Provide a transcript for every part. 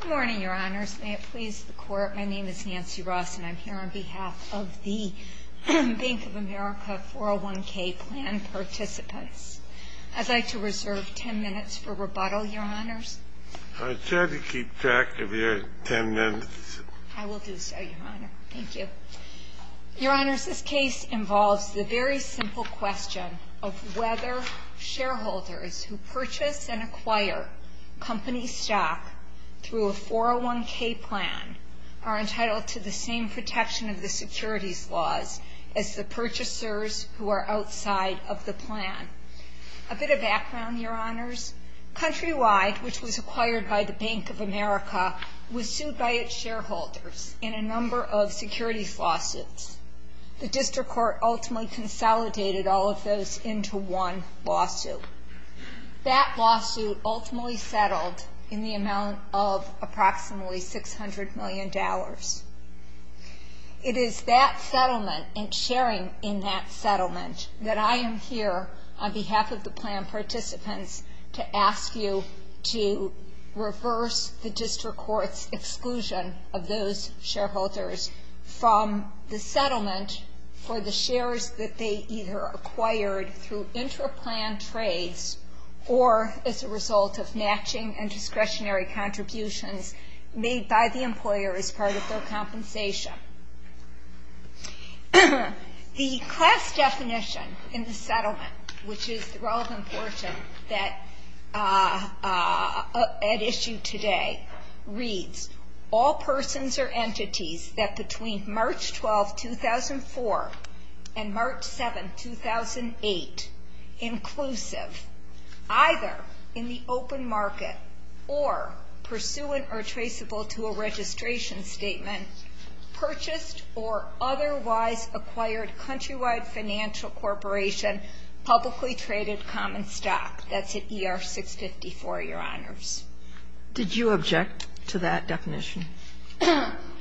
Good morning, Your Honors. May it please the Court, my name is Nancy Ross and I'm here on behalf of the Bank of America 401k plan participants. I'd like to reserve ten minutes for rebuttal, Your Honors. It's better to keep track of your ten minutes. I will do so, Your Honor. Thank you. Your Honors, this case involves the very simple question of whether shareholders who purchase and acquire company stock through a 401k plan are entitled to the same protection of the securities laws as the purchasers who are outside of the plan. A bit of background, Your Honors. Countrywide, which was acquired by the Bank of America, was sued by its shareholders in a number of securities lawsuits. The District Court ultimately consolidated all of those into one lawsuit. That lawsuit ultimately settled in the amount of approximately $600 million. It is that settlement and sharing in that settlement that I am here on behalf of the plan participants to ask you to reverse the District Court's exclusion of those shareholders from the settlement for the shares that they either acquired through intra-plan trades or as a result of matching and discretionary contributions made by the employer as part of their compensation. The class definition in the settlement, which is the relevant portion at issue today, reads, all persons or entities that between March 12, 2004, and March 7, 2008, inclusive, either in the open market or pursuant or traceable to a registration statement, purchased or otherwise acquired Countrywide Financial Corporation publicly traded common stock. That's at ER 654, Your Honors. Did you object to that definition?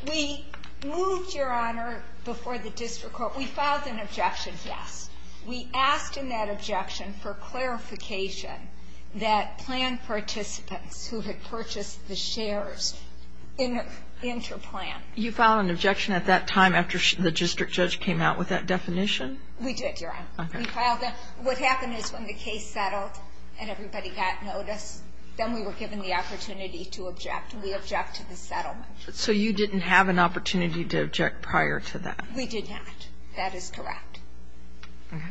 We moved, Your Honor, before the District Court. We filed an objection, yes. We asked in that objection for clarification that plan participants who had purchased the shares in intra-plan. You filed an objection at that time after the district judge came out with that definition? We did, Your Honor. Okay. What happened is when the case settled and everybody got notice, then we were given the opportunity to object, and we objected to the settlement. So you didn't have an opportunity to object prior to that? We did not. That is correct. Okay.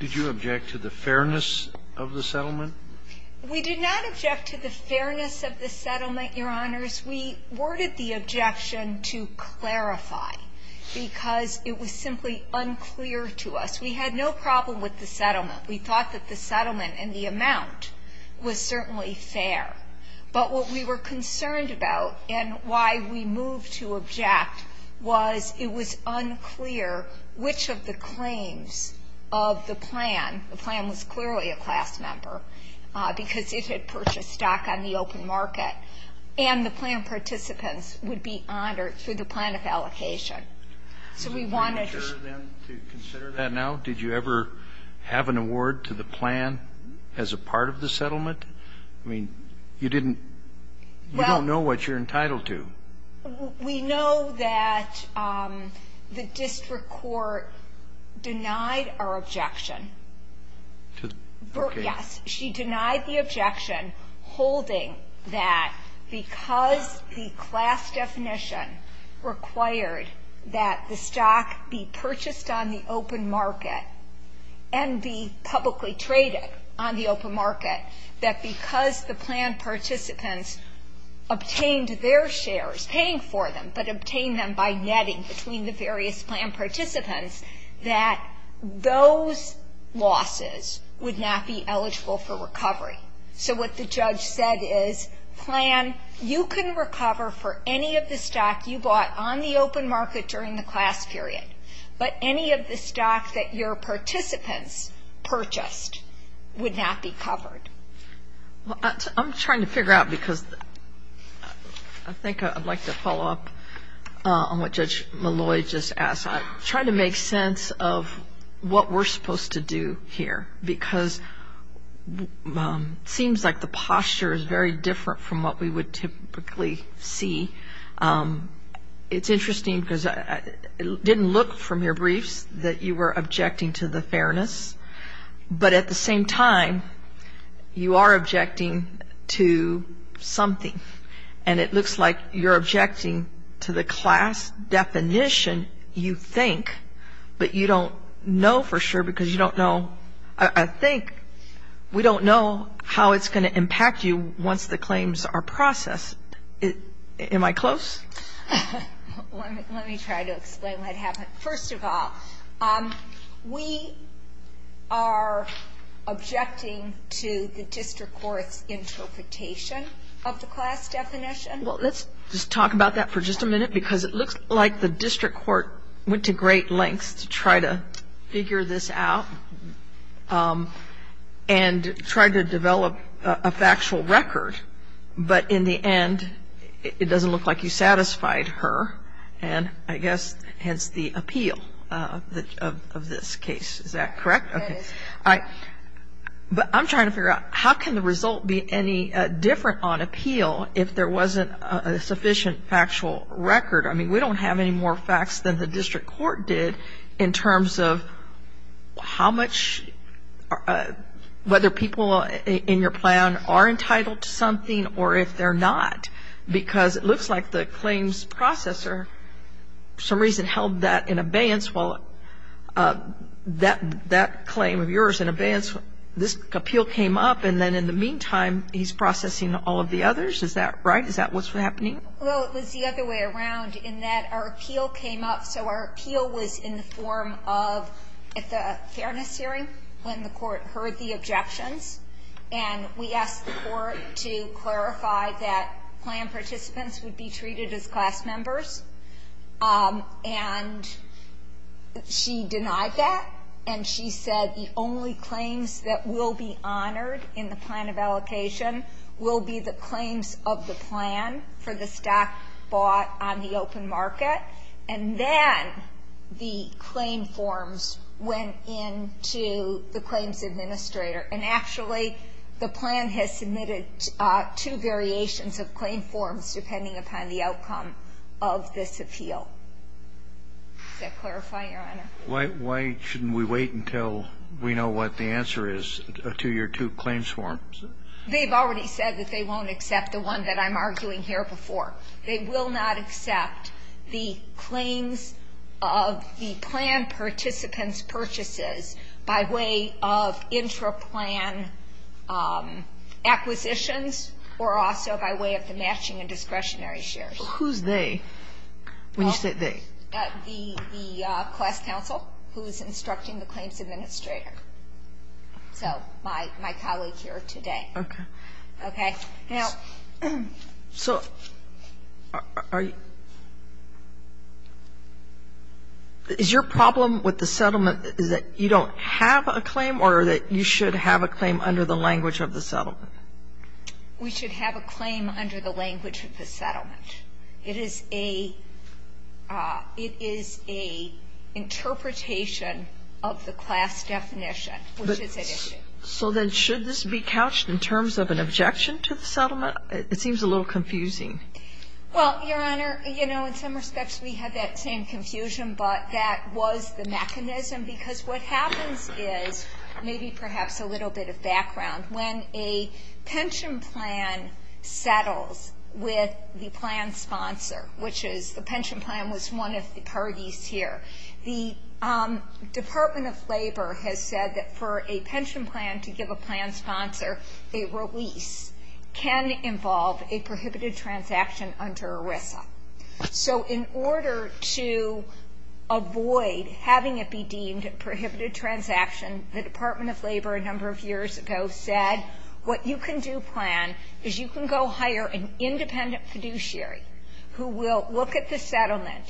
Did you object to the fairness of the settlement? We did not object to the fairness of the settlement, Your Honors. We worded the objection to clarify because it was simply unclear to us. We had no problem with the settlement. We thought that the settlement and the amount was certainly fair. But what we were concerned about and why we moved to object was it was unclear which of the claims of the plan, the plan was clearly a class member because it had purchased stock on the open market, and the plan participants would be honored through the plan of allocation. So we wanted to consider that. Did you ever have an award to the plan as a part of the settlement? I mean, you didn't know what you're entitled to. We know that the district court denied our objection. Okay. Yes, she denied the objection holding that because the class definition required that the stock be purchased on the open market and be publicly traded on the open market, that because the plan participants obtained their shares, paying for them but obtained them by netting between the various plan participants, that those losses would not be eligible for recovery. So what the judge said is, plan, you can recover for any of the stock you bought on the open market during the class period, but any of the stock that your participants purchased would not be covered. I'm trying to figure out because I think I'd like to follow up on what Judge Malloy just asked. I'm trying to make sense of what we're supposed to do here because it seems like the posture is very different from what we would typically see. It's interesting because it didn't look from your briefs that you were objecting to the fairness, but at the same time, you are objecting to something, and it looks like you're objecting to the class definition, you think, but you don't know for sure because you don't know. I think we don't know how it's going to impact you once the claims are processed. Am I close? Let me try to explain what happened. First of all, we are objecting to the district court's interpretation of the class definition. Well, let's just talk about that for just a minute because it looks like the district court went to great lengths to try to figure this out and try to develop a factual record, but in the end, it doesn't look like you satisfied her, and I guess hence the appeal of this case. Is that correct? Okay. But I'm trying to figure out how can the result be any different on appeal if there wasn't a sufficient factual record? I mean, we don't have any more facts than the district court did in terms of how much, whether people in your plan are entitled to something or if they're not because it looks like the claims processor for some reason held that in abeyance while that claim of yours in abeyance, this appeal came up, and then in the meantime, he's processing all of the others. Is that right? Is that what's happening? Well, it was the other way around in that our appeal came up, so our appeal was in the form of a fairness hearing when the court heard the objections, and we asked the court to clarify that plan participants would be treated as class members, and she denied that, and she said the only claims that will be honored in the plan of allocation will be the claims of the plan for the stock bought on the open market, and then the claim forms went into the claims administrator, and actually the plan has submitted two variations of claim forms depending upon the outcome of this appeal. Does that clarify, Your Honor? Why shouldn't we wait until we know what the answer is to your two claims forms? They've already said that they won't accept the one that I'm arguing here before. They will not accept the claims of the plan participants' purchases by way of intra-plan acquisitions or also by way of the matching and discretionary shares. Who's they when you say they? The class counsel who's instructing the claims administrator, so my colleague here today. Okay. So is your problem with the settlement is that you don't have a claim or that you should have a claim under the language of the settlement? We should have a claim under the language of the settlement. It is a interpretation of the class definition, which is at issue. So then should this be couched in terms of an objection to the settlement? It seems a little confusing. Well, Your Honor, you know, in some respects we have that same confusion, but that was the mechanism because what happens is, maybe perhaps a little bit of background, when a pension plan settles with the plan sponsor, which is the pension plan was one of the parties here, the Department of Labor has said that for a pension plan to give a plan sponsor a release can involve a prohibited transaction under ERISA. So in order to avoid having it be deemed a prohibited transaction, the Department of Labor a number of years ago said what you can do, plan, is you can go hire an independent fiduciary who will look at the settlement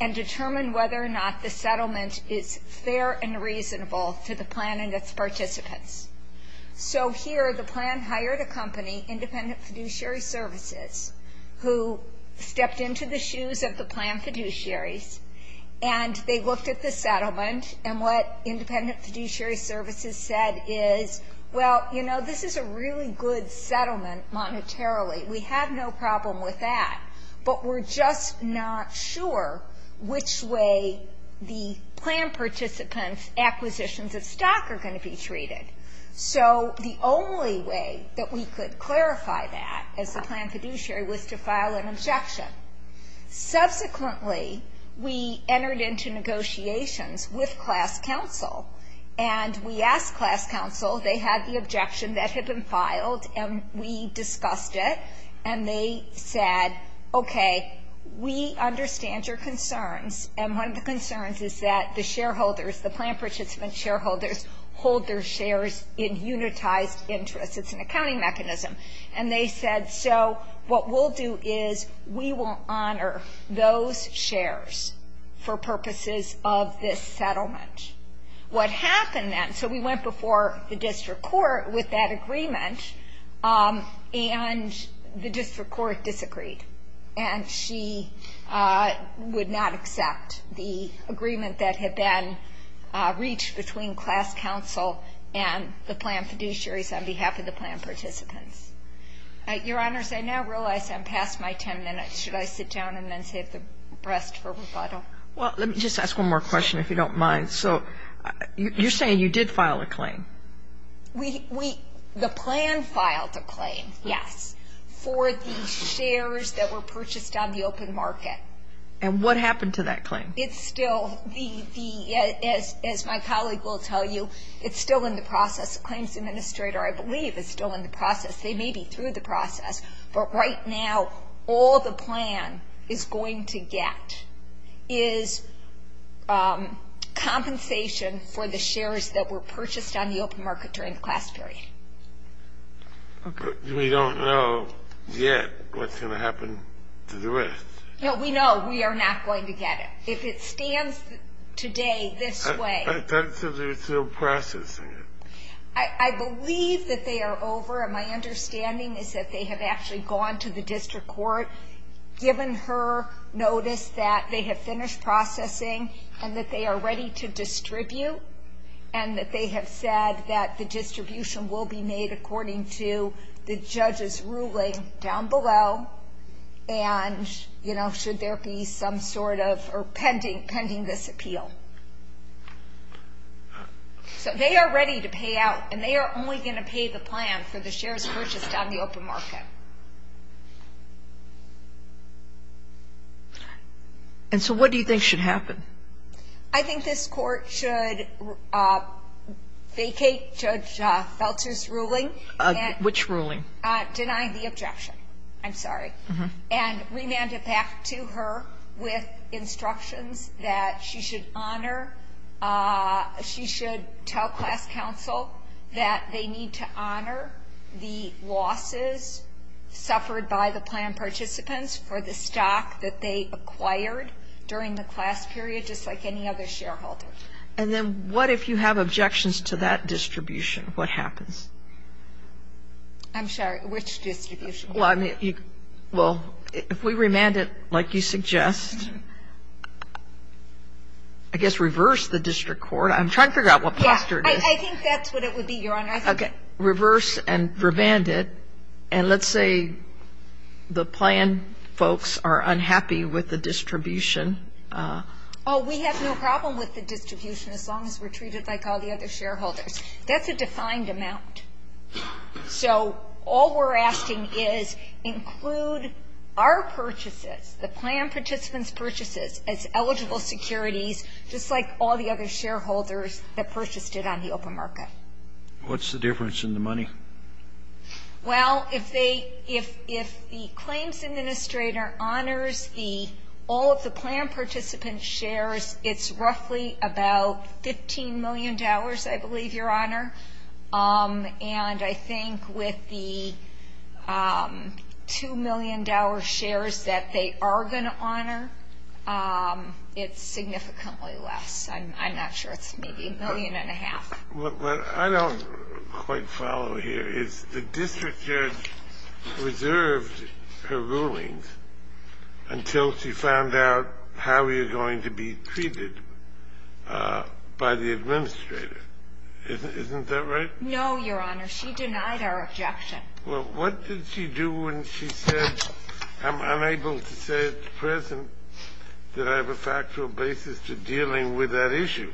and determine whether or not the settlement is fair and reasonable to the plan and its participants. So here the plan hired a company, Independent Fiduciary Services, who stepped into the shoes of the plan fiduciaries and they looked at the settlement and what Independent Fiduciary Services said is, well, you know, this is a really good settlement monetarily. We have no problem with that, but we're just not sure which way the plan participants' acquisitions of stock are going to be treated. So the only way that we could clarify that as a plan fiduciary was to file an objection. Subsequently, we entered into negotiations with class counsel and we asked class counsel, they had the objection that had been filed and we discussed it and they said, okay, we understand your concerns and one of the concerns is that the shareholders, the plan participants' shareholders, hold their shares in unitized interest. It's an accounting mechanism. And they said, so what we'll do is we will honor those shares for purposes of this settlement. What happened then, so we went before the district court with that agreement and the district court disagreed and she would not accept the agreement that had been reached between class counsel and the plan fiduciaries on behalf of the plan participants. Your Honors, I now realize I'm past my ten minutes. Should I sit down and then save the rest for rebuttal? Well, let me just ask one more question if you don't mind. So you're saying you did file a claim? The plan filed a claim, yes, for the shares that were purchased on the open market. And what happened to that claim? It's still, as my colleague will tell you, it's still in the process. The claims administrator, I believe, is still in the process. They may be through the process, but right now all the plan is going to get is compensation for the shares that were purchased on the open market during the class period. Okay. We don't know yet what's going to happen to the rest. No, we know we are not going to get it. If it stands today this way. I thought you said they were still processing it. I believe that they are over. My understanding is that they have actually gone to the district court, given her notice that they have finished processing and that they are ready to distribute and that they have said that the distribution will be made according to the judge's ruling down below and, you know, should there be some sort of, or pending this appeal. So they are ready to pay out and they are only going to pay the plan for the shares purchased on the open market. And so what do you think should happen? I think this court should vacate Judge Feltzer's ruling. Which ruling? Denying the objection, I'm sorry. Okay. And remand it back to her with instructions that she should honor, she should tell class counsel that they need to honor the losses suffered by the plan participants for the stock that they acquired during the class period, just like any other shareholder. And then what if you have objections to that distribution? What happens? I'm sorry, which distribution? Well, if we remand it like you suggest, I guess reverse the district court. I'm trying to figure out what posture it is. I think that's what it would be, Your Honor. Okay. Reverse and remand it. And let's say the plan folks are unhappy with the distribution. Oh, we have no problem with the distribution as long as we're treated like all the other shareholders. That's a defined amount. So all we're asking is include our purchases, the plan participants' purchases, as eligible securities, just like all the other shareholders that purchased it on the open market. What's the difference in the money? Well, if they, if the claims administrator honors the, all of the plan participant shares, it's roughly about $15 million, I believe, Your Honor. And I think with the $2 million shares that they are going to honor, it's significantly less. I'm not sure. It's maybe a million and a half. What I don't quite follow here is the district judge reserved her rulings until she found out how we were going to be treated by the administrator. Isn't that right? No, Your Honor. She denied our objection. Well, what did she do when she said, I'm unable to say at the present that I have a factual basis to dealing with that issue?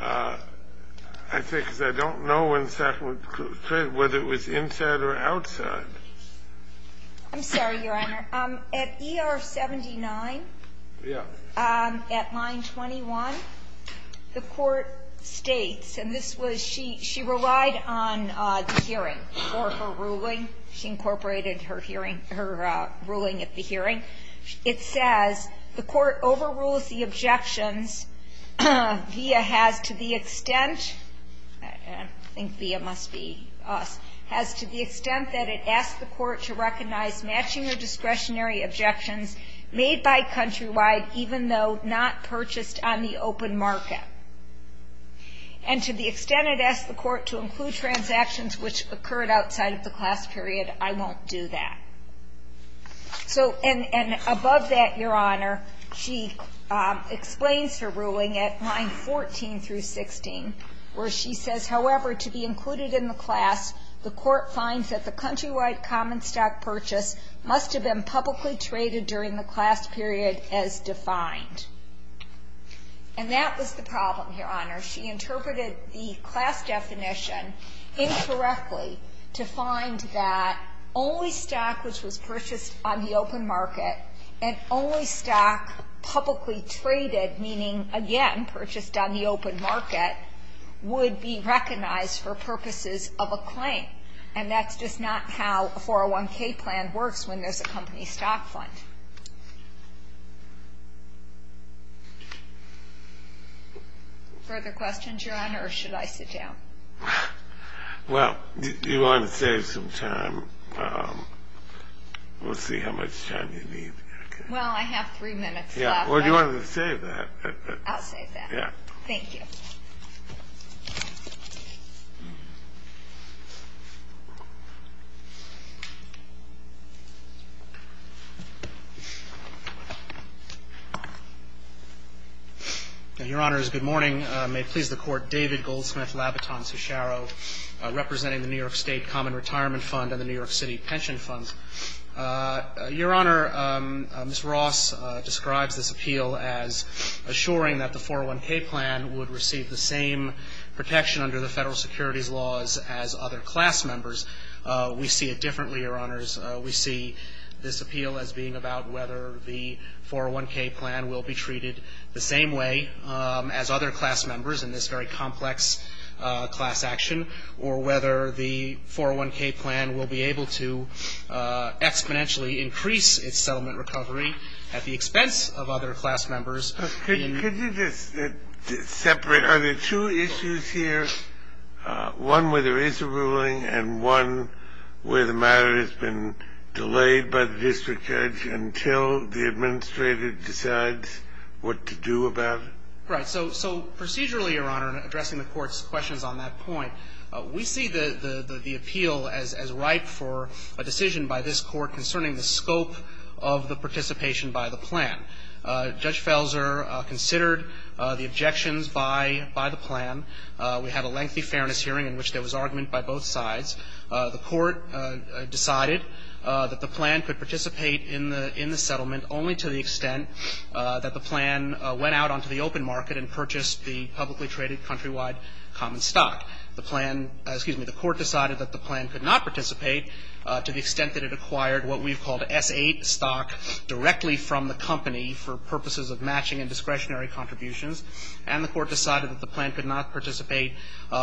I say because I don't know when Sacramento said whether it was inside or outside. I'm sorry, Your Honor. At ER 79, at line 21, the court states, and this was, she relied on the hearing for her ruling. She incorporated her hearing, her ruling at the hearing. It says the court overrules the objections via has to the extent, I think via must has to the extent that it asks the court to recognize matching or discretionary objections made by Countrywide even though not purchased on the open market. And to the extent it asks the court to include transactions which occurred outside of the class period, I won't do that. And above that, Your Honor, she explains her ruling at line 14 through 16 where she says, however, to be included in the class, the court finds that the Countrywide common stock purchase must have been publicly traded during the class period as defined. And that was the problem, Your Honor. She interpreted the class definition incorrectly to find that only stock which was purchased on the open market and only stock publicly traded, meaning, again, purchased on the open market, would be recognized for purposes of a claim. And that's just not how a 401K plan works when there's a company stock fund. Further questions, Your Honor, or should I sit down? Well, you want to save some time. We'll see how much time you need. Well, I have three minutes left. Or do you want to save that? I'll save that. Thank you. Your Honors, good morning. May it please the Court. David Goldsmith, Labitant-Susharo, representing the New York State Common Retirement Fund and the New York City Pension Fund. Your Honor, Ms. Ross describes this appeal as assuring that the 401K plan would receive the same protection under the Federal securities laws as other class members. We see it differently, Your Honors. We see this appeal as being about whether the 401K plan will be treated the same way as other class members in this very complex class action, or whether the 401K plan will be able to exponentially increase its settlement recovery at the expense of other class members. Could you just separate? Are there two issues here, one where there is a ruling and one where the matter has been delayed by the district judge until the administrator decides what to do about it? Right. So procedurally, Your Honor, in addressing the Court's questions on that point, we see the appeal as ripe for a decision by this Court concerning the scope of the participation by the plan. Judge Felser considered the objections by the plan. We had a lengthy fairness hearing in which there was argument by both sides. The Court decided that the plan could participate in the settlement only to the extent that the plan went out onto the open market and purchased the publicly traded countrywide common stock. The plan — excuse me, the Court decided that the plan could not participate to the extent that it acquired what we've called S-8 stock directly from the company for purposes of matching and discretionary contributions. And the Court decided that the plan could not participate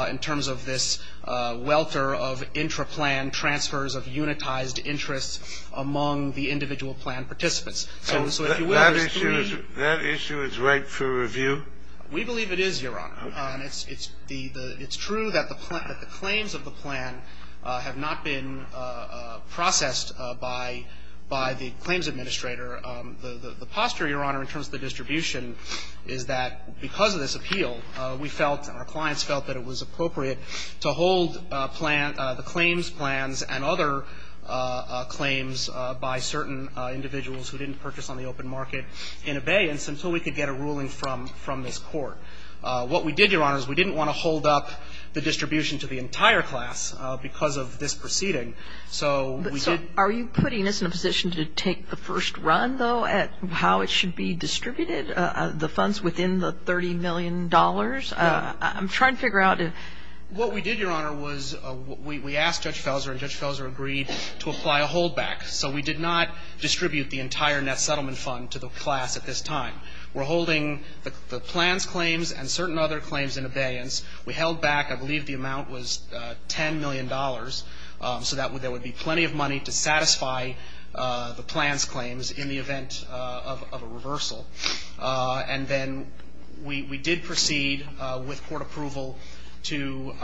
in terms of this welter of intra-plan transfers of unitized interests among the individual plan participants. So if you will, there's three — That issue is ripe for review? We believe it is, Your Honor. And it's the — it's true that the claims of the plan have not been processed by the claims administrator. The posture, Your Honor, in terms of the distribution is that because of this appeal, we felt and our clients felt that it was appropriate to hold the claims plans and other claims by certain individuals who didn't purchase on the open market in abeyance until we could get a ruling from this Court. What we did, Your Honor, is we didn't want to hold up the distribution to the entire class because of this proceeding. So we did — So are you putting us in a position to take the first run, though, at how it should be distributed, the funds within the $30 million? I'm trying to figure out if — What we did, Your Honor, was we asked Judge Felser, and Judge Felser agreed to apply a holdback. So we did not distribute the entire net settlement fund to the class at this time. We're holding the plans claims and certain other claims in abeyance. We held back — I believe the amount was $10 million, so that there would be plenty of money to satisfy the plans claims in the event of a reversal. And then we did proceed with court approval to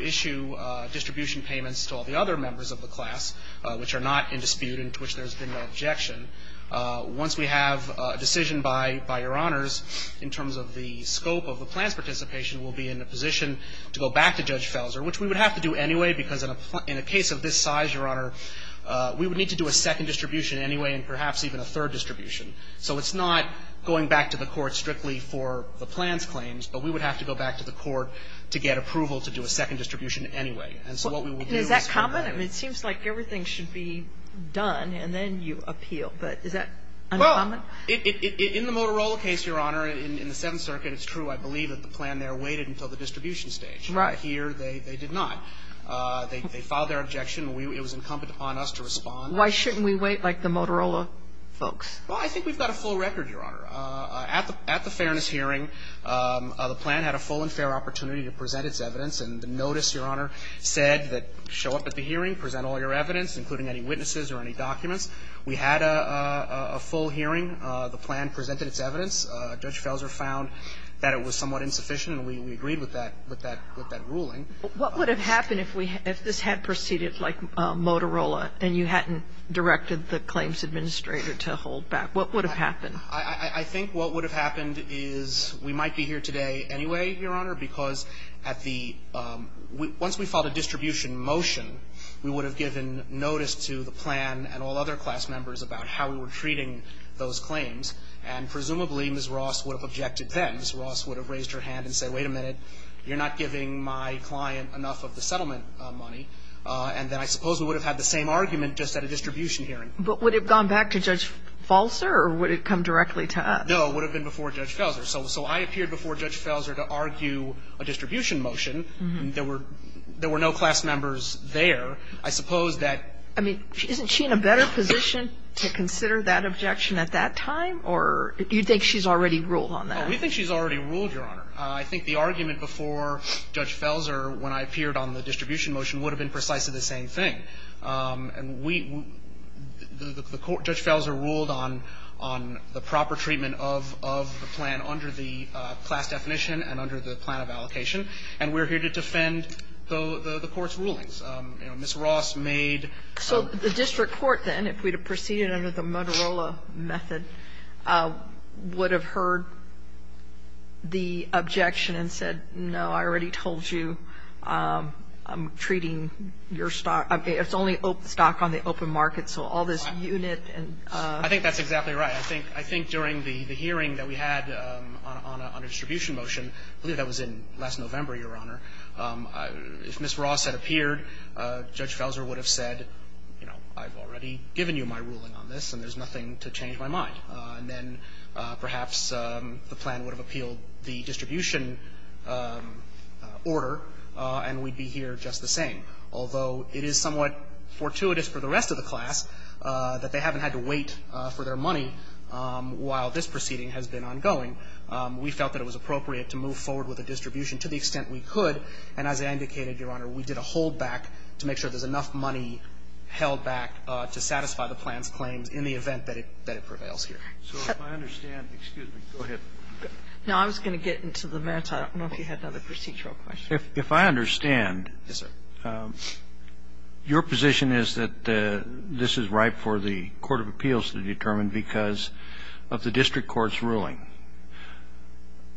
issue distribution payments to all the other members of the class which are not in dispute and to which there has been no objection. Once we have a decision by Your Honors in terms of the scope of the plans participation, we'll be in a position to go back to Judge Felser, which we would have to do anyway because in a case of this size, Your Honor, we would need to do a second distribution anyway and perhaps even a third distribution. So it's not going back to the court strictly for the plans claims, but we would have to go back to the court to get approval to do a second distribution anyway. And so what we will do is — And is that common? I mean, it seems like everything should be done and then you appeal. But is that uncommon? Well, in the Motorola case, Your Honor, in the Seventh Circuit, it's true, I believe, that the plan there waited until the distribution stage. Right. Here, they did not. They filed their objection. It was incumbent upon us to respond. Why shouldn't we wait like the Motorola folks? Well, I think we've got a full record, Your Honor. At the Fairness hearing, the plan had a full and fair opportunity to present its evidence. And the notice, Your Honor, said that show up at the hearing, present all your evidence, including any witnesses or any documents. We had a full hearing. The plan presented its evidence. Judge Felser found that it was somewhat insufficient, and we agreed with that ruling. What would have happened if we — if this had proceeded like Motorola and you hadn't directed the claims administrator to hold back? What would have happened? I think what would have happened is we might be here today anyway, Your Honor, because at the — once we filed a distribution motion, we would have given notice to the plan and all other class members about how we were treating those claims. And presumably, Ms. Ross would have objected then. Ms. Ross would have raised her hand and said, wait a minute, you're not giving my client enough of the settlement money. And then I suppose we would have had the same argument just at a distribution hearing. But would it have gone back to Judge Felser, or would it have come directly to us? No, it would have been before Judge Felser. So I appeared before Judge Felser to argue a distribution motion. There were no class members there. I suppose that — I mean, isn't she in a better position to consider that objection at that time, or do you think she's already ruled on that? Oh, we think she's already ruled, Your Honor. I think the argument before Judge Felser when I appeared on the distribution motion would have been precisely the same thing. And we — the court — Judge Felser ruled on the proper treatment of the plan under the class definition and under the plan of allocation. And we're here to defend the Court's rulings. You know, Ms. Ross made — So the district court then, if we had proceeded under the Motorola method, would have heard the objection and said, no, I already told you I'm treating your stock — it's only stock on the open market, so all this unit and — I think that's exactly right. I think — I think during the hearing that we had on a distribution motion, I believe that was in last November, Your Honor, if Ms. Ross had appeared, Judge Felser would have said, you know, I've already given you my ruling on this and there's nothing to change my mind. And then perhaps the plan would have appealed the distribution order and we'd be here just the same, although it is somewhat fortuitous for the rest of the class that they haven't had to wait for their money while this proceeding has been ongoing. We felt that it was appropriate to move forward with the distribution to the extent we could, and as I indicated, Your Honor, we did a holdback to make sure there's enough money held back to satisfy the plan's claims in the event that it prevails here. So if I understand — excuse me, go ahead. Now, I was going to get into the merits. I don't know if you had another procedural question. If I understand — Yes, sir. — your position is that this is ripe for the court of appeals to determine because of the district court's ruling.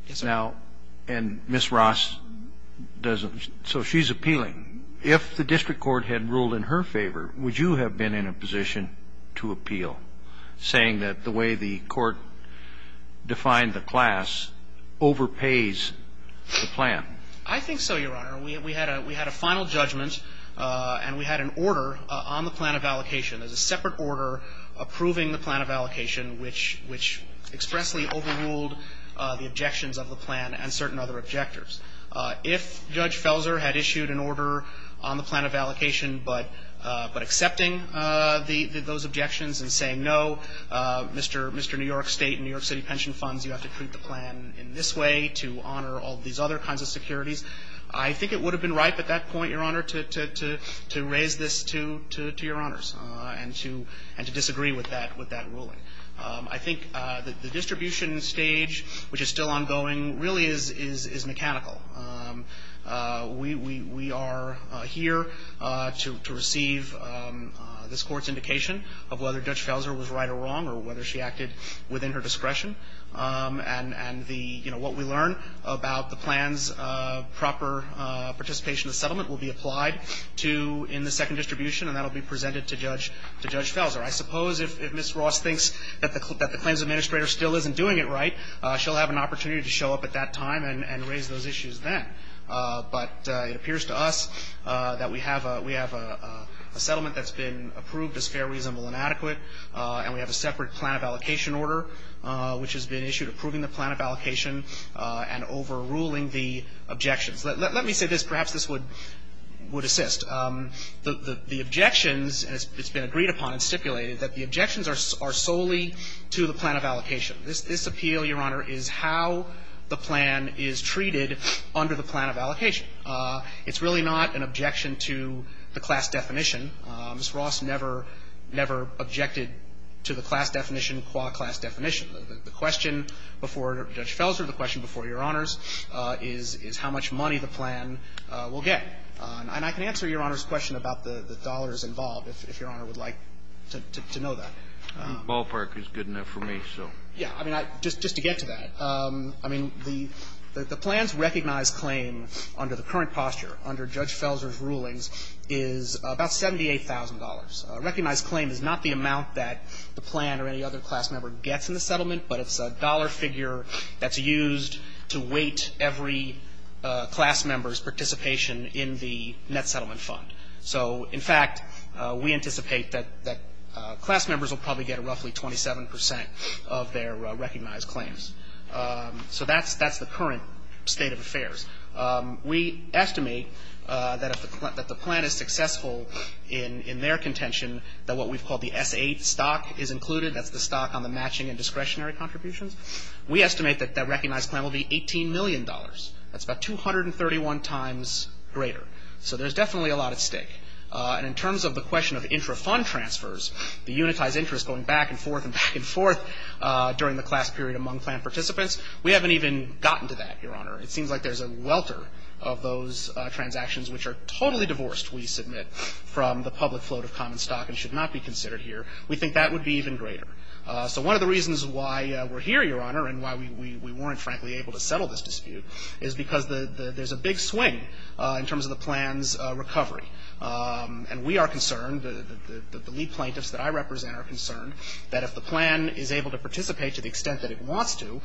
Yes, sir. Now, and Ms. Ross doesn't — so she's appealing. If the district court had ruled in her favor, would you have been in a position to appeal, saying that the way the court defined the class overpays the plan? I think so, Your Honor. We had a final judgment and we had an order on the plan of allocation. There's a separate order approving the plan of allocation, which expressly overruled the objections of the plan and certain other objectives. If Judge Felser had issued an order on the plan of allocation but accepting those objections and saying, no, Mr. New York State and New York City pension funds, you have to treat the plan in this way to honor all these other kinds of securities, I think it would have been ripe at that point, Your Honor, to raise this to your honors and to disagree with that ruling. I think the distribution stage, which is still ongoing, really is mechanical. We are here to receive this Court's indication of whether Judge Felser was right or wrong or whether she acted within her discretion. And the — you know, what we learn about the plan's proper participation in the settlement will be applied to — in the second distribution, and that will be presented to Judge Felser. I suppose if Ms. Ross thinks that the claims administrator still isn't doing it right, she'll have an opportunity to show up at that time and raise those issues then. But it appears to us that we have a — we have a settlement that's been approved as fair, reasonable, and adequate, and we have a separate plan of allocation order, which has been issued approving the plan of allocation and overruling the objections. Let me say this. Perhaps this would assist. The objections — and it's been agreed upon and stipulated that the objections are solely to the plan of allocation. This appeal, Your Honor, is how the plan is treated under the plan of allocation. It's really not an objection to the class definition. Ms. Ross never — never objected to the class definition, qua class definition. The question before Judge Felser, the question before Your Honors, is how much money the plan will get. And I can answer Your Honor's question about the dollars involved, if Your Honor would like to know that. Ballpark is good enough for me, so. Yeah. I mean, just to get to that, I mean, the plan's recognized claim under the current posture, under Judge Felser's rulings, is about $78,000. Recognized claim is not the amount that the plan or any other class member gets in the settlement, but it's a dollar figure that's used to weight every class member's participation in the net settlement fund. So, in fact, we anticipate that — that class members will probably get roughly 27 percent of their recognized claims. So that's the current state of affairs. We estimate that if the plan is successful in their contention, that what we've called the S-8 stock is included. That's the stock on the matching and discretionary contributions. We estimate that that recognized plan will be $18 million. That's about 231 times greater. So there's definitely a lot at stake. And in terms of the question of intrafund transfers, the unitized interest going back and forth and back and forth during the class period among plan participants, we haven't even gotten to that, Your Honor. It seems like there's a welter of those transactions which are totally divorced, we submit, from the public float of common stock and should not be considered here. We think that would be even greater. So one of the reasons why we're here, Your Honor, and why we weren't, frankly, able to settle this dispute is because there's a big swing in terms of the plan's recovery. And we are concerned, the lead plaintiffs that I represent are concerned, that if the plan is able to participate to the extent that it wants to,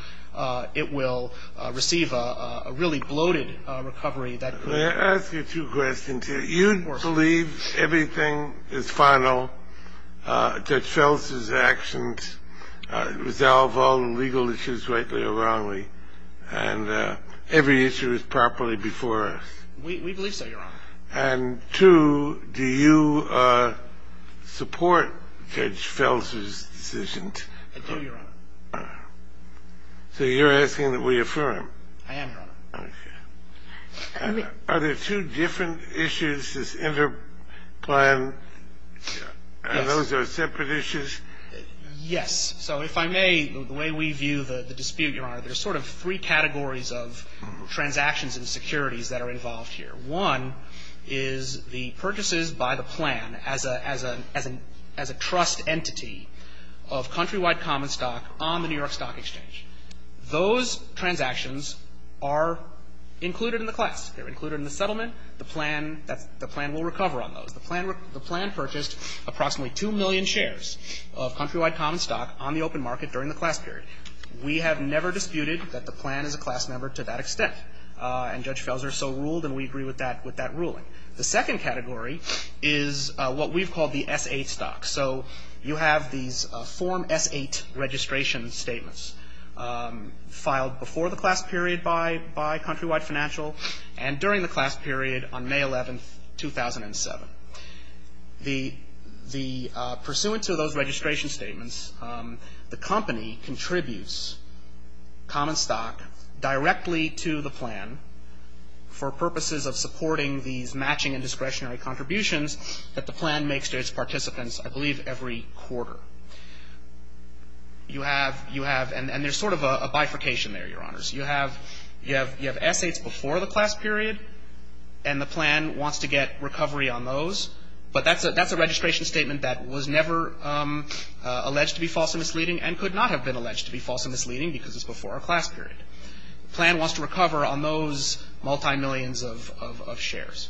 it will receive a really bloated recovery. Let me ask you two questions here. You believe everything is final, Judge Felsen's actions resolve all legal issues rightly or wrongly, and every issue is properly before us. We believe so, Your Honor. And two, do you support Judge Felsen's decision? I do, Your Honor. So you're asking that we affirm. I am, Your Honor. Okay. Are there two different issues, this interplan, and those are separate issues? Yes. So if I may, the way we view the dispute, Your Honor, there's sort of three categories of transactions and securities that are involved here. One is the purchases by the plan as a trust entity of Countrywide Common Stock on the New York Stock Exchange. Those transactions are included in the class. They're included in the settlement. The plan will recover on those. The plan purchased approximately 2 million shares of Countrywide Common Stock on the open market during the class period. We have never disputed that the plan is a class member to that extent. And Judge Felsen so ruled, and we agree with that ruling. The second category is what we've called the S-8 stock. So you have these Form S-8 registration statements filed before the class period by Countrywide Financial and during the class period on May 11, 2007. Pursuant to those registration statements, the company contributes common stock directly to the plan for purposes of supporting these matching and discretionary contributions that the plan makes to its participants, I believe, every quarter. You have, you have, and there's sort of a bifurcation there, Your Honors. You have, you have S-8s before the class period, and the plan wants to get recovery on those. But that's a, that's a registration statement that was never alleged to be false and misleading and could not have been alleged to be false and misleading because it's before a class period. The plan wants to recover on those multi-millions of shares.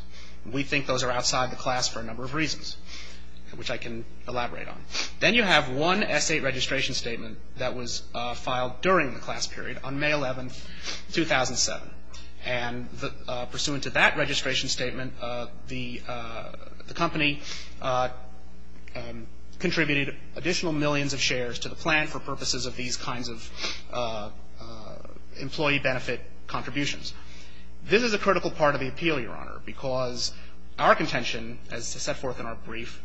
We think those are outside the class for a number of reasons, which I can elaborate on. Then you have one S-8 registration statement that was filed during the class period on May 11, 2007. And pursuant to that registration statement, the company contributed additional millions of shares to the plan for purposes of these kinds of employee benefit contributions. This is a critical part of the appeal, Your Honor, because our contention, as set forth in our brief,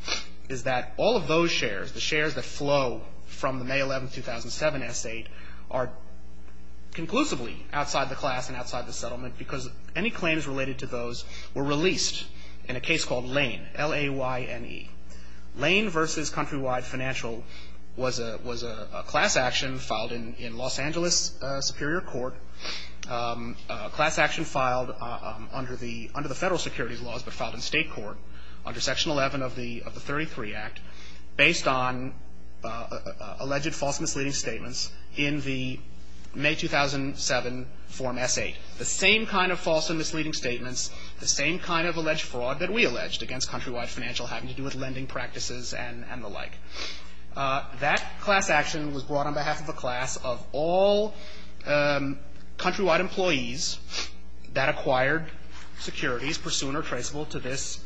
is that all of those shares, the shares that flow from the May 11, 2007 S-8, are conclusively outside the class and outside the settlement because any claims related to those were released in a case called Lane, L-A-Y-N-E. Lane v. Countrywide Financial was a class action filed in Los Angeles Superior Court, a class action filed under the federal securities laws but filed in state court under Section 11 of the 33 Act based on alleged false and misleading statements in the May 2007 Form S-8. The same kind of false and misleading statements, the same kind of alleged fraud that we alleged against Countrywide Financial having to do with lending practices and the like. That class action was brought on behalf of a class of all Countrywide employees that acquired securities pursuant or traceable to this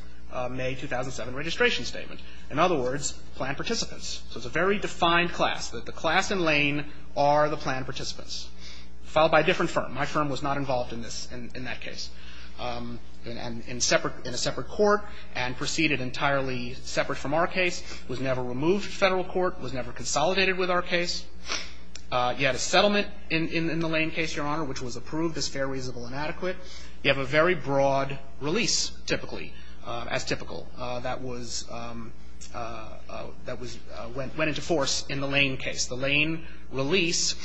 May 2007 registration statement. In other words, plan participants. So it's a very defined class, that the class in Lane are the plan participants filed by a different firm. My firm was not involved in this, in that case. In a separate court and proceeded entirely separate from our case, was never removed to federal court, was never consolidated with our case. You had a settlement in the Lane case, Your Honor, which was approved as fair, reasonable and adequate. You have a very broad release, typically, as typical, that was – that went into force in the Lane case. The Lane release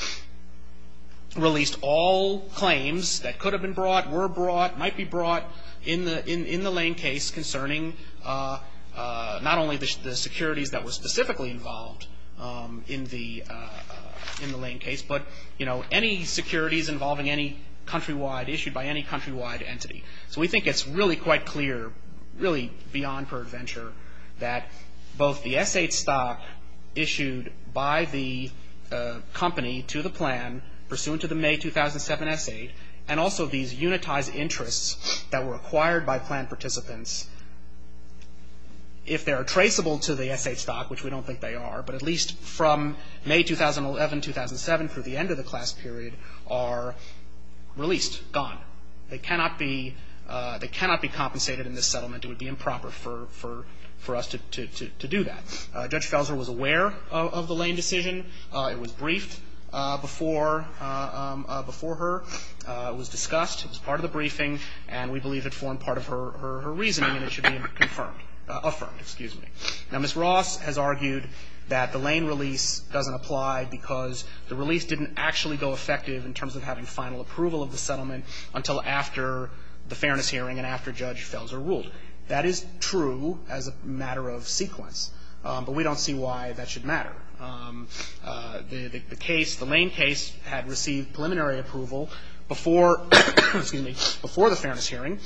released all claims that could have been brought, were brought, might be brought in the Lane case concerning not only the securities that were specifically involved in the Lane case, but, you know, any securities involving any Countrywide, issued by any Countrywide entity. So we think it's really quite clear, really beyond per venture, that both the S-8 stock issued by the company to the plan, pursuant to the May 2007 S-8, and also these unitized interests that were acquired by plan participants, if they are traceable to the S-8 stock, which we don't think they are, but at least from May 2011, 2007, through the end of the class period, are released, gone. They cannot be compensated in this settlement. It would be improper for us to do that. Judge Felser was aware of the Lane decision. It was briefed before her. It was discussed. It was part of the briefing. And we believe it formed part of her reasoning, and it should be confirmed – affirmed, excuse me. Now, Ms. Ross has argued that the Lane release doesn't apply because the release didn't actually go effective in terms of having final approval of the settlement until after the fairness hearing and after Judge Felser ruled. That is true as a matter of sequence, but we don't see why that should matter. The case, the Lane case, had received preliminary approval before, excuse me, before the fairness hearing.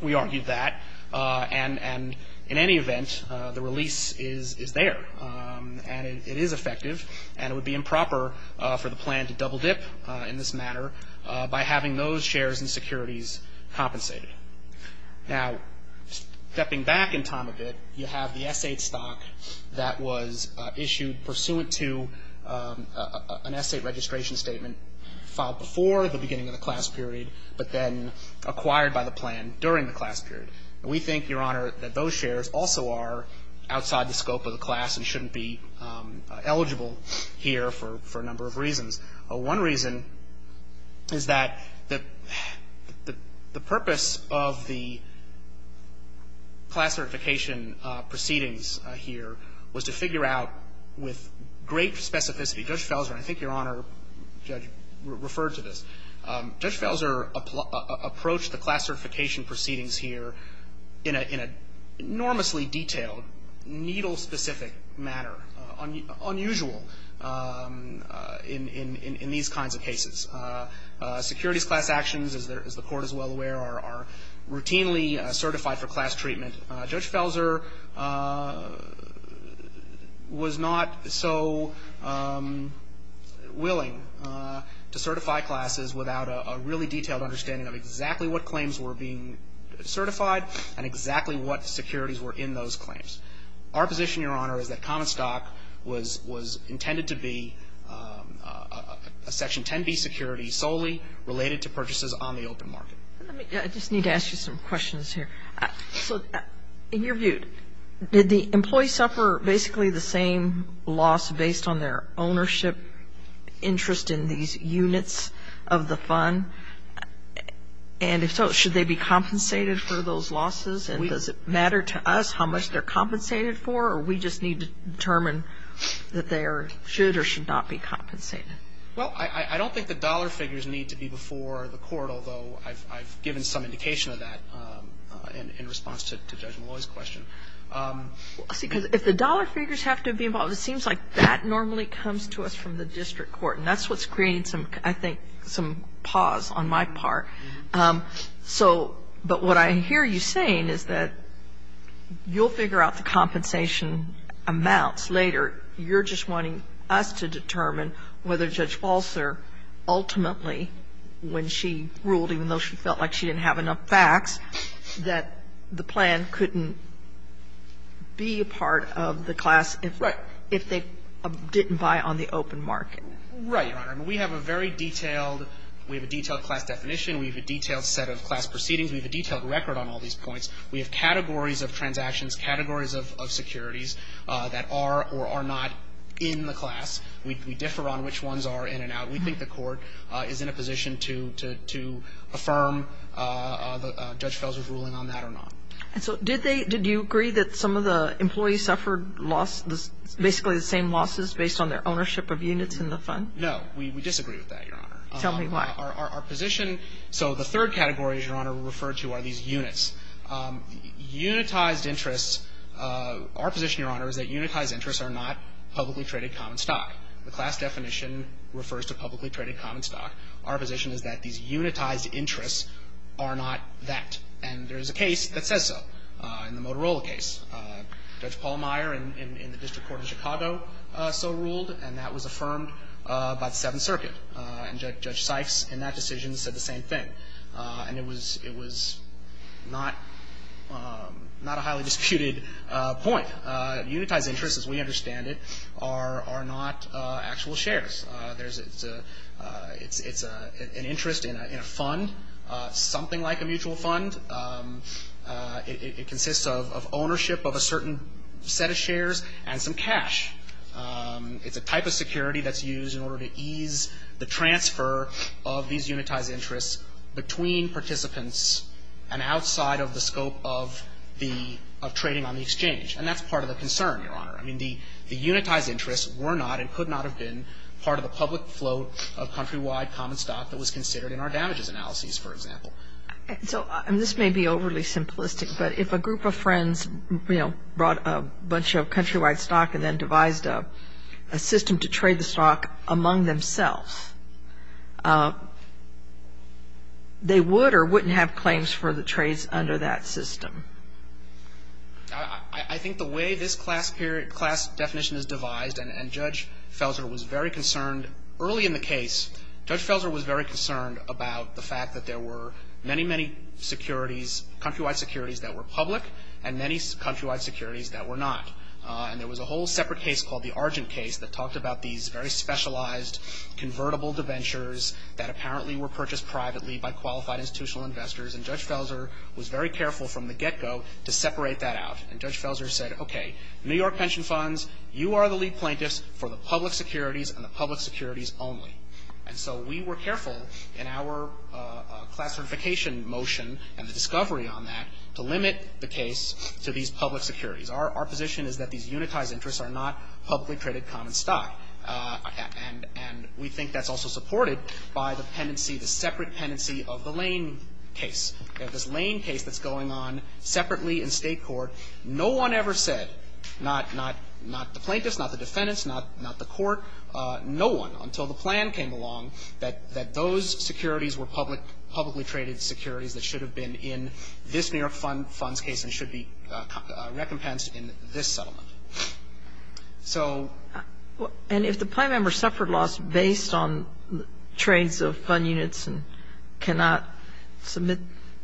We argued that. And in any event, the release is there, and it is effective, and it would be improper for the plan to double dip in this matter by having those shares and securities compensated. Now, stepping back in time a bit, you have the S-8 stock that was issued pursuant to an S-8 registration statement filed before the beginning of the class period, but then acquired by the plan during the class period. And we think, Your Honor, that those shares also are outside the scope of the class and shouldn't be eligible here for a number of reasons. One reason is that the purpose of the class certification proceedings here was to figure out with great specificity. Judge Felser, and I think Your Honor, Judge, referred to this. Judge Felser approached the class certification proceedings here in an enormously detailed, needle-specific manner, unusual in these kinds of cases. Securities class actions, as the Court is well aware, are routinely certified for class treatment. Judge Felser was not so willing to certify classes without a really detailed understanding of exactly what claims were being certified and exactly what securities were in those claims. Our position, Your Honor, is that common stock was intended to be a Section 10b security solely related to purchases on the open market. I just need to ask you some questions here. So in your view, did the employee suffer basically the same loss based on their ownership interest in these units of the fund? And if so, should they be compensated for those losses? And does it matter to us how much they're compensated for, or we just need to determine that they should or should not be compensated? Well, I don't think the dollar figures need to be before the Court, although I've given some indication of that in response to Judge Malloy's question. See, because if the dollar figures have to be involved, it seems like that normally comes to us from the district court. And that's what's creating some, I think, some pause on my part. So, but what I hear you saying is that you'll figure out the compensation amounts later. You're just wanting us to determine whether Judge Falser ultimately, when she ruled, even though she felt like she didn't have enough facts, that the plan couldn't be a part of the class if they didn't buy on the open market. Right, Your Honor. We have a very detailed, we have a detailed class definition. We have a detailed set of class proceedings. We have a detailed record on all these points. We have categories of transactions, categories of securities that are or are not in the class. We differ on which ones are in and out. We think the Court is in a position to affirm Judge Falser's ruling on that or not. And so did they, did you agree that some of the employees suffered loss, basically the same losses based on their ownership of units in the fund? No. We disagree with that, Your Honor. Tell me why. Our position, so the third category, Your Honor, we refer to are these units. Unitized interests, our position, Your Honor, is that unitized interests are not publicly traded common stock. The class definition refers to publicly traded common stock. Our position is that these unitized interests are not that. And there is a case that says so in the Motorola case. Judge Paul Meyer in the District Court of Chicago so ruled, and that was affirmed by the Seventh Circuit. And Judge Sykes in that decision said the same thing. And it was not a highly disputed point. Unitized interests, as we understand it, are not actual shares. It's an interest in a fund, something like a mutual fund. It consists of ownership of a certain set of shares and some cash. It's a type of security that's used in order to ease the transfer of these unitized interests between participants and outside of the scope of the trading on the exchange. And that's part of the concern, Your Honor. I mean, the unitized interests were not and could not have been part of the public float of countrywide common stock that was considered in our damages analyses, for example. So this may be overly simplistic, but if a group of friends, you know, brought a bunch of countrywide stock and then devised a system to trade the stock among themselves, they would or wouldn't have claims for the trades under that system. I think the way this class definition is devised, and Judge Felzer was very concerned early in the case, Judge Felzer was very concerned about the fact that there were many, many securities, countrywide securities that were public and many countrywide securities that were not. And there was a whole separate case called the Argent case that talked about these very specialized convertible debentures that apparently were purchased privately by qualified institutional investors. And Judge Felzer was very careful from the get-go to separate that out. And Judge Felzer said, okay, New York pension funds, you are the lead plaintiffs for the public securities and the public securities only. And so we were careful in our class certification motion and the discovery on that to limit the case to these public securities. Our position is that these unitized interests are not publicly traded common stock. And we think that's also supported by the pendency, the separate pendency of the Lane case, this Lane case that's going on separately in State court. No one ever said, not the plaintiffs, not the defendants, not the court, no one, until the plan came along, that those securities were publicly traded securities that should have been in this New York fund's case and should be recompensed in this settlement. So ---- And if the plaintiff suffered loss based on trades of fund units and cannot submit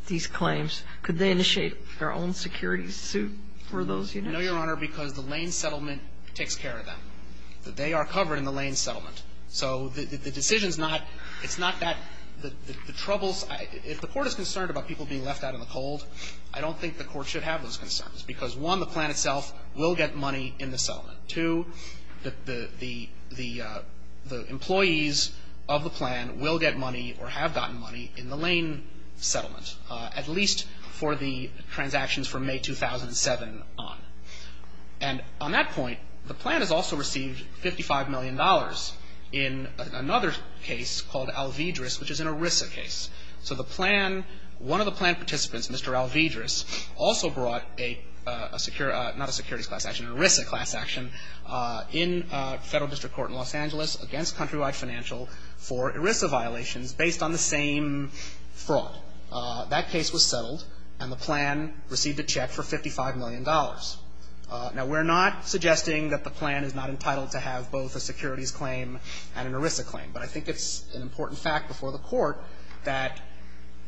these claims, could they initiate their own securities suit for those units? No, Your Honor, because the Lane settlement takes care of that. They are covered in the Lane settlement. So the decision is not, it's not that the troubles, if the court is concerned about people being left out in the cold, I don't think the court should have those concerns because, one, the plan itself will get money in the settlement. Two, the employees of the plan will get money or have gotten money in the Lane settlement, at least for the transactions from May 2007 on. And on that point, the plan has also received $55 million in another case called Alvidrez, which is an ERISA case. So the plan, one of the plan participants, Mr. Alvidrez, also brought a secure, not a securities class action, an ERISA class action in Federal District Court in Los Angeles against Countrywide Financial for ERISA violations based on the same fraud. That case was settled, and the plan received a check for $55 million. Now, we're not suggesting that the plan is not entitled to have both a securities claim and an ERISA claim. But I think it's an important fact before the court that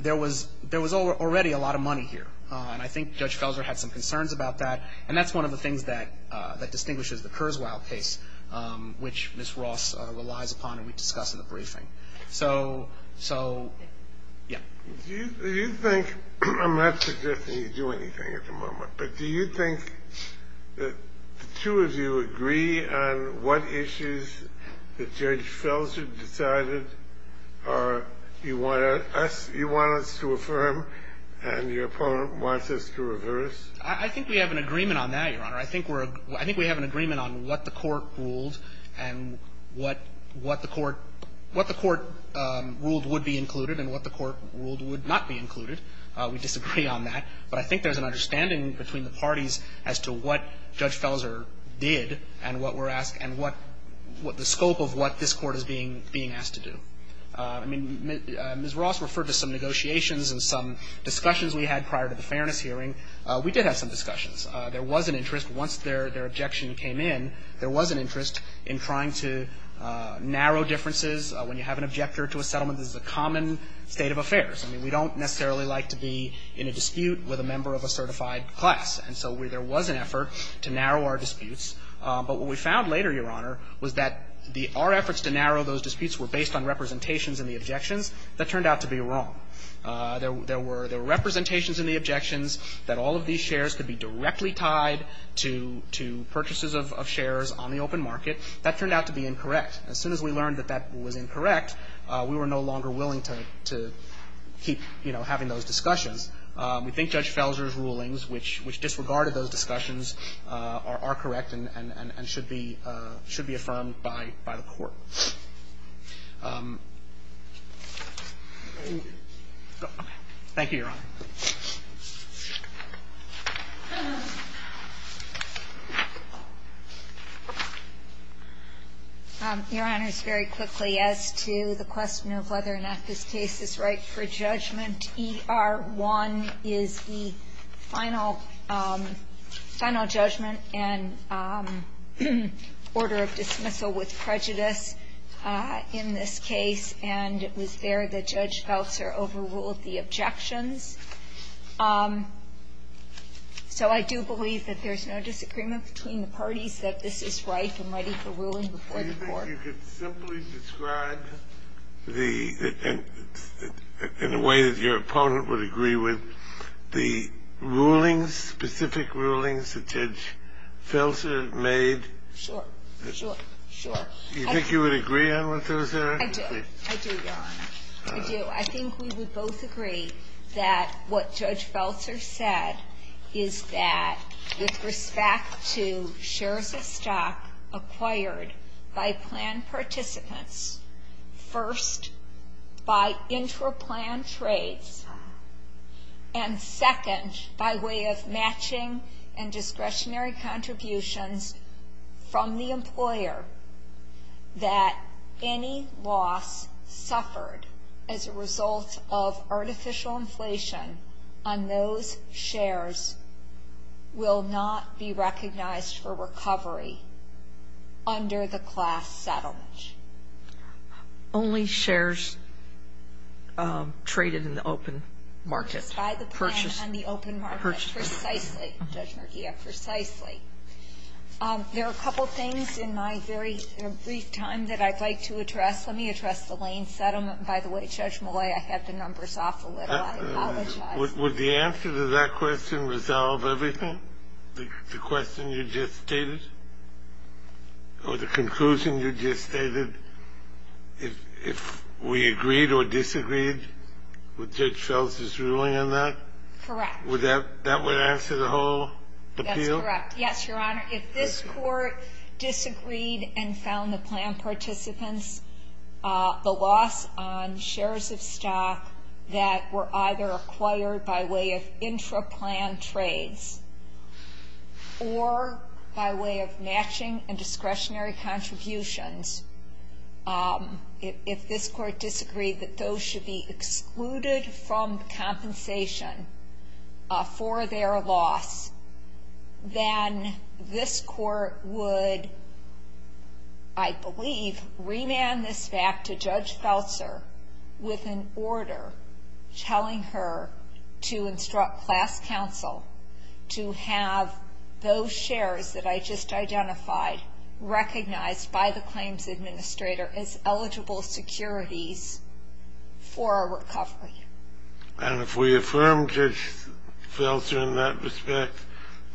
there was already a lot of money here. And I think Judge Felser had some concerns about that, and that's one of the things that distinguishes the Kurzweil case, which Ms. Ross relies upon and we discussed in the briefing. So, yeah. Do you think – I'm not suggesting you do anything at the moment, but do you think that the two of you agree on what issues that Judge Felser decided are – you want us – you want us to affirm and your opponent wants us to reverse? I think we have an agreement on that, Your Honor. I think we're – I think we have an agreement on what the court ruled and what the court – what the court ruled would be included and what the court ruled would not be included. We disagree on that. But I think there's an understanding between the parties as to what Judge Felser did and what we're asked and what – what the scope of what this Court is being – being asked to do. I mean, Ms. Ross referred to some negotiations and some discussions we had prior to the fairness hearing. We did have some discussions. There was an interest. Once their objection came in, there was an interest in trying to narrow differences when you have an objector to a settlement. This is a common state of affairs. I mean, we don't necessarily like to be in a dispute with a member of a certified class. And so there was an effort to narrow our disputes. But what we found later, Your Honor, was that the – our efforts to narrow those disputes were based on representations in the objections. That turned out to be wrong. There were representations in the objections that all of these shares could be directly tied to purchases of shares on the open market. That turned out to be incorrect. As soon as we learned that that was incorrect, we were no longer willing to keep, you know, having those discussions. We think Judge Felser's rulings, which disregarded those discussions, are correct and should be – should be affirmed by the Court. Thank you, Your Honor. Your Honors, very quickly, as to the question of whether or not this case is right for judgment, ER1 is the final – final judgment and order of dismissal with prejudice in this case, and it was there that Judge Felser overruled the objections. So I do believe that there's no disagreement between the parties that this is right and ready for ruling before the Court. Do you think you could simply describe the – in a way that your opponent would agree with the rulings, specific rulings that Judge Felser made? Sure, sure, sure. Do you think you would agree on what those are? I do. I do, Your Honor. I do. I think we would both agree that what Judge Felser said is that with respect to shares of stock acquired by plan participants, first, by intra-plan trades, and second, by way of matching and discretionary contributions from the employer, that any loss suffered as a result of artificial inflation on those shares will not be recognized for recovery under the class settlement. Only shares traded in the open market. Purchased by the plan on the open market. Purchased. Precisely, Judge Murguia, precisely. There are a couple of things in my very brief time that I'd like to address. Let me address the Lane settlement. By the way, Judge Malay, I had the numbers off a little. I apologize. Would the answer to that question resolve everything, the question you just stated or the conclusion you just stated, if we agreed or disagreed with Judge Felser's ruling on that? Correct. Would that – that would answer the whole appeal? That's correct. Yes, Your Honor. If this court disagreed and found the plan participants, the loss on shares of stock that were either acquired by way of intra-plan trades or by way of matching and discretionary contributions, if this court disagreed that those should be then this court would, I believe, remand this back to Judge Felser with an order telling her to instruct class counsel to have those shares that I just identified recognized by the claims administrator as eligible securities for a recovery. And if we affirm Judge Felser in that respect,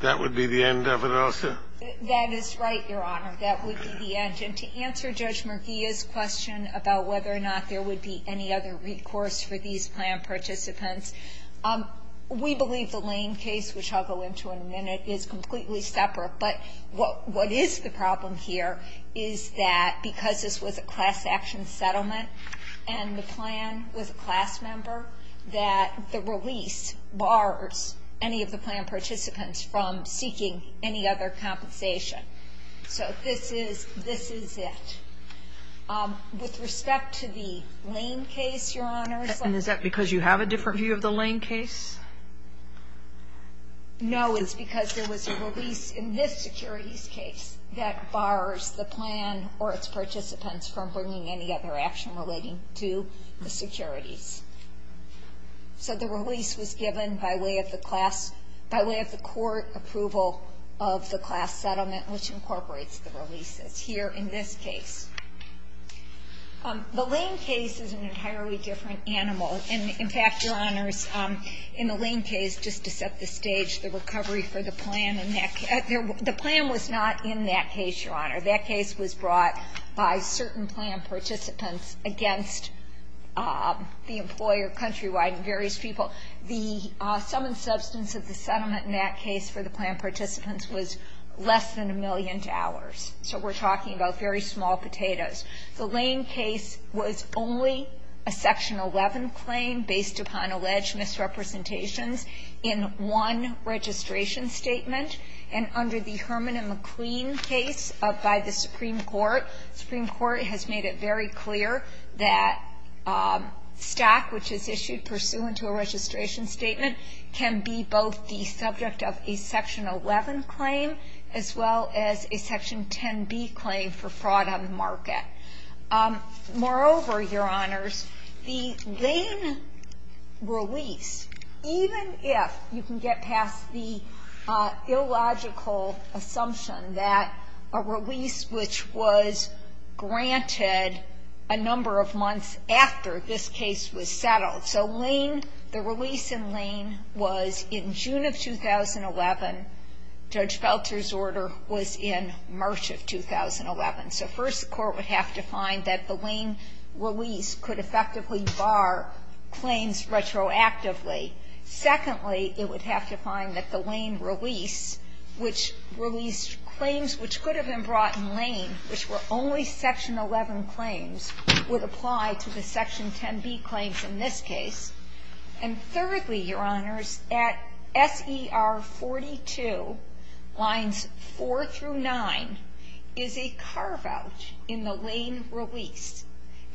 that would be the end of it also? That is right, Your Honor. That would be the end. And to answer Judge Murguia's question about whether or not there would be any other recourse for these plan participants, we believe the Lane case, which I'll go into in a minute, is completely separate. But what is the problem here is that because this was a class action settlement and the plan was a class member, that the release bars any of the plan participants from seeking any other compensation. So this is it. With respect to the Lane case, Your Honor. And is that because you have a different view of the Lane case? No, it's because there was a release in this securities case that bars the plan or its participants from bringing any other action relating to the securities. So the release was given by way of the court approval of the class settlement, which incorporates the releases here in this case. The Lane case is an entirely different animal. And, in fact, Your Honors, in the Lane case, just to set the stage, the plan was not in that case, Your Honor. That case was brought by certain plan participants against the employer countrywide and various people. The sum and substance of the settlement in that case for the plan participants was less than a million dollars. So we're talking about very small potatoes. The Lane case was only a Section 11 claim based upon alleged misrepresentations in one registration statement. And under the Herman and McLean case by the Supreme Court, the Supreme Court has made it very clear that stock, which is issued pursuant to a registration statement, can be both the subject of a Section 11 claim as well as a Section 10b claim for fraud on the market. Moreover, Your Honors, the Lane release, even if you can get past the illogical assumption that a release which was granted a number of months after this case was settled. So Lane, the release in Lane was in June of 2011. Judge Felter's order was in March of 2011. So first, the Court would have to find that the Lane release could effectively bar claims retroactively. Secondly, it would have to find that the Lane release, which released claims which could have been brought in Lane, which were only Section 11 claims, would apply to the Section 10b claims in this case. And thirdly, Your Honors, at SER 42, Lines 4 through 9, is a carve-out in the Lane release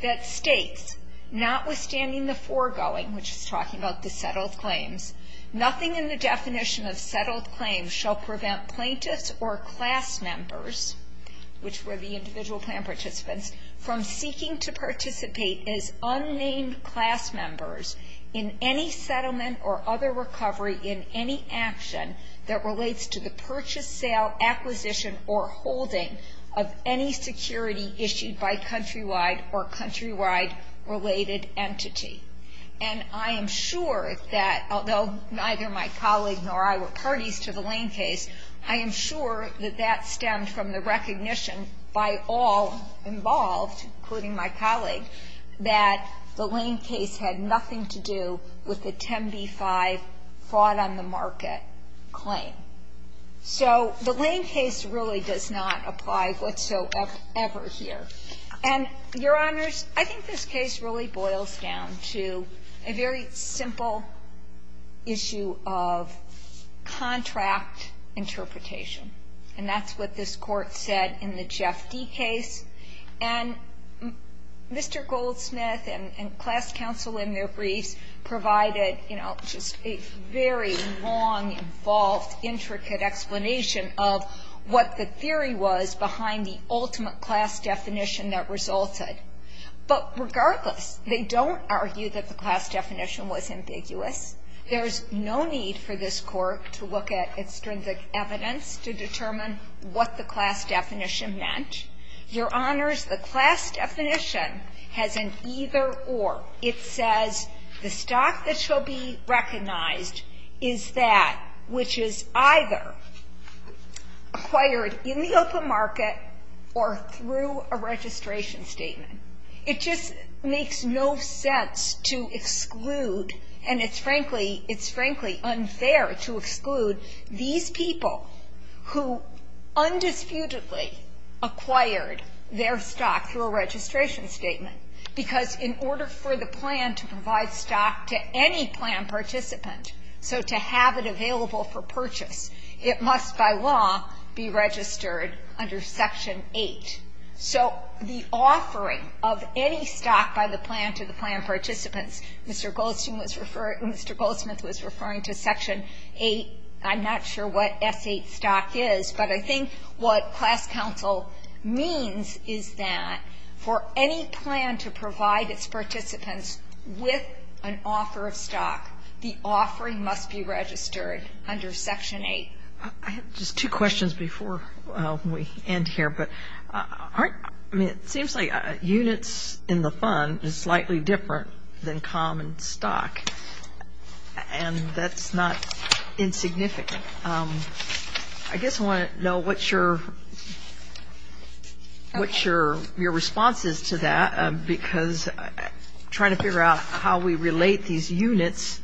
that states, notwithstanding the foregoing, which is talking about the settled claims, nothing in the definition of settled claims shall prevent plaintiffs or class members, which were the individual plan participants, from seeking to participate as unnamed class members in any settlement or other recovery in any action that relates to the purchase, sale, acquisition, or holding of any security issued by countrywide or countrywide-related entity. And I am sure that, although neither my colleague nor I were parties to the Lane case, I am sure that that stemmed from the recognition by all involved, including my colleague, that the Lane case had nothing to do with the 10b-5 fraud-on-the-market claim. So the Lane case really does not apply whatsoever here. And, Your Honors, I think this case really boils down to a very simple issue of contract interpretation. And that's what this Court said in the Jeff D. case. And Mr. Goldsmith and class counsel in their briefs provided, you know, just a very long, involved, intricate explanation of what the theory was behind the ultimate class definition that resulted. But regardless, they don't argue that the class definition was ambiguous. There is no need for this Court to look at extrinsic evidence to determine what the class definition meant. Your Honors, the class definition has an either-or. It says the stock that shall be recognized is that which is either acquired in the open market or through a registration statement. It just makes no sense to exclude, and it's frankly unfair to exclude these people who undisputedly acquired their stock through a registration statement. Because in order for the plan to provide stock to any plan participant, so to have it available for purchase, it must by law be registered under Section 8. So the offering of any stock by the plan to the plan participants, Mr. Goldsmith was referring to Section 8. I'm not sure what S8 stock is, but I think what class counsel means is that for any plan to provide its participants with an offer of stock, the offering must be registered under Section 8. I have just two questions before we end here. It seems like units in the fund is slightly different than common stock, and that's not insignificant. I guess I want to know what your response is to that, because I'm trying to figure out how we relate these units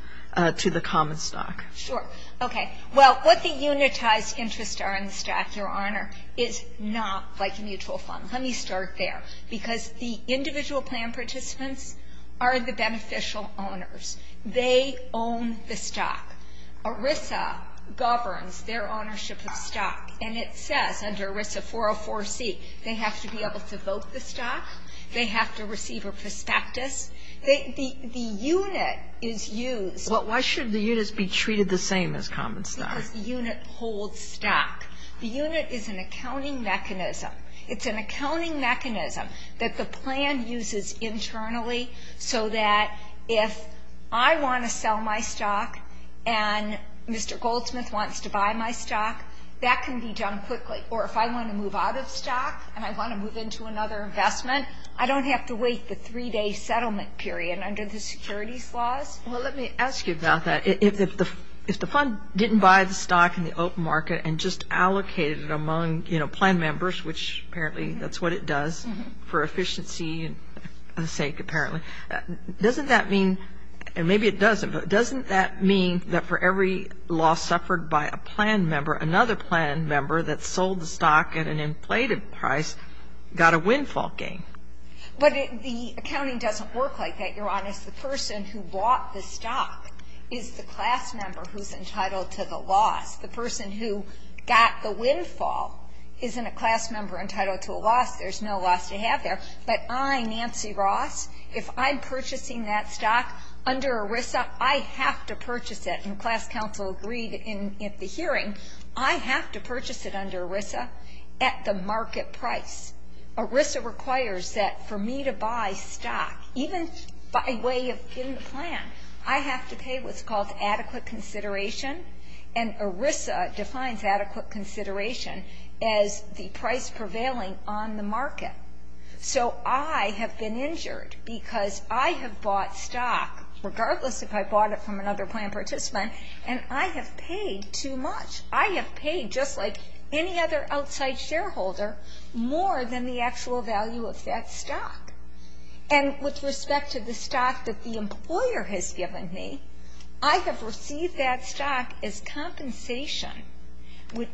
to the common stock. Sure. Okay. Well, what the unitized interests are in the stock, Your Honor, is not like a mutual fund. Let me start there. Because the individual plan participants are the beneficial owners. They own the stock. ERISA governs their ownership of stock, and it says under ERISA 404c, they have to be able to vote the stock, they have to receive a prospectus. The unit is used. Well, why should the units be treated the same as common stock? Because the unit holds stock. The unit is an accounting mechanism. It's an accounting mechanism that the plan uses internally so that if I want to sell my stock and Mr. Goldsmith wants to buy my stock, that can be done quickly. Or if I want to move out of stock and I want to move into another investment, I don't have to wait the 3-day settlement period under the securities laws. Well, let me ask you about that. If the fund didn't buy the stock in the open market and just allocated it among, you know, plan members, which apparently that's what it does for efficiency sake apparently, doesn't that mean, and maybe it doesn't, but doesn't that mean that for every loss suffered by a plan member, another plan member that sold the stock at an inflated price got a windfall gain? But the accounting doesn't work like that, Your Honor. The person who bought the stock is the class member who's entitled to the loss. The person who got the windfall isn't a class member entitled to a loss. There's no loss to have there. But I, Nancy Ross, if I'm purchasing that stock under ERISA, I have to purchase it. And the class council agreed at the hearing I have to purchase it under ERISA at the market price. ERISA requires that for me to buy stock, even by way of in the plan, I have to pay what's called adequate consideration, and ERISA defines adequate consideration as the price prevailing on the market. So I have been injured because I have bought stock, regardless if I bought it from another plan participant, and I have paid too much. I have paid, just like any other outside shareholder, more than the actual value of that stock. And with respect to the stock that the employer has given me, I have received that stock as compensation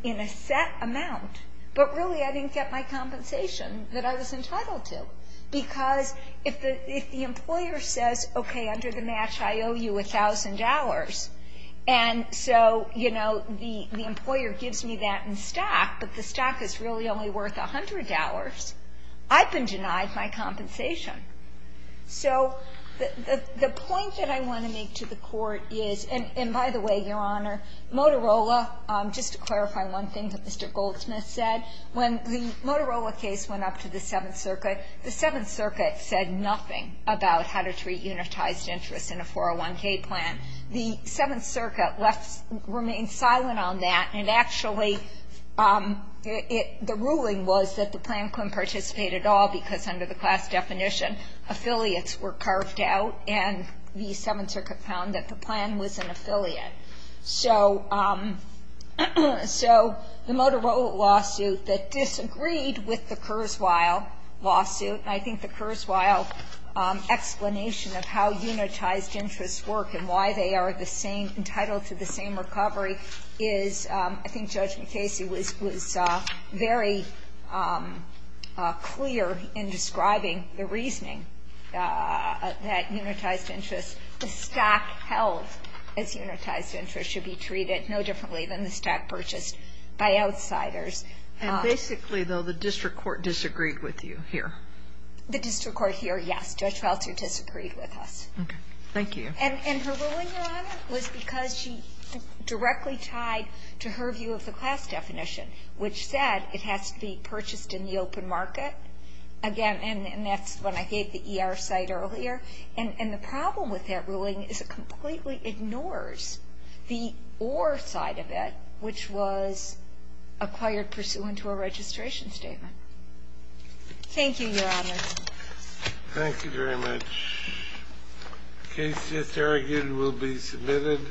in a set amount, but really I didn't get my compensation that I was entitled to. Because if the employer says, okay, under the match I owe you $1,000, and so, you know, the employer gives me that in stock, but the stock is really only worth $100, I've been denied my compensation. So the point that I want to make to the Court is, and by the way, Your Honor, Motorola, just to clarify one thing that Mr. Goldsmith said, when the Motorola case went up to the Seventh Circuit, the Seventh Circuit said nothing about how to treat unitized interest in a 401k plan, the Seventh Circuit remained silent on that, and actually the ruling was that the plan couldn't participate at all, because under the class definition, affiliates were carved out, and the Seventh Circuit found that the plan was an affiliate. So the Motorola lawsuit that disagreed with the Kurzweil lawsuit, and I think the Kurzweil explanation of how unitized interests work and why they are the same, entitled to the same recovery, is I think Judge McCasey was very clear in describing the reasoning that unitized interest, the stock held as unitized interest should be treated no differently than the stock purchased by outsiders. And basically, though, the district court disagreed with you here. The district court here, yes. Judge Felter disagreed with us. Okay. Thank you. And her ruling, Your Honor, was because she directly tied to her view of the class definition, which said it has to be purchased in the open market. Again, and that's when I gave the ER site earlier. And the problem with that ruling is it completely ignores the or side of it, which was acquired pursuant to a registration statement. Thank you, Your Honor. Thank you very much. The case just argued will be submitted.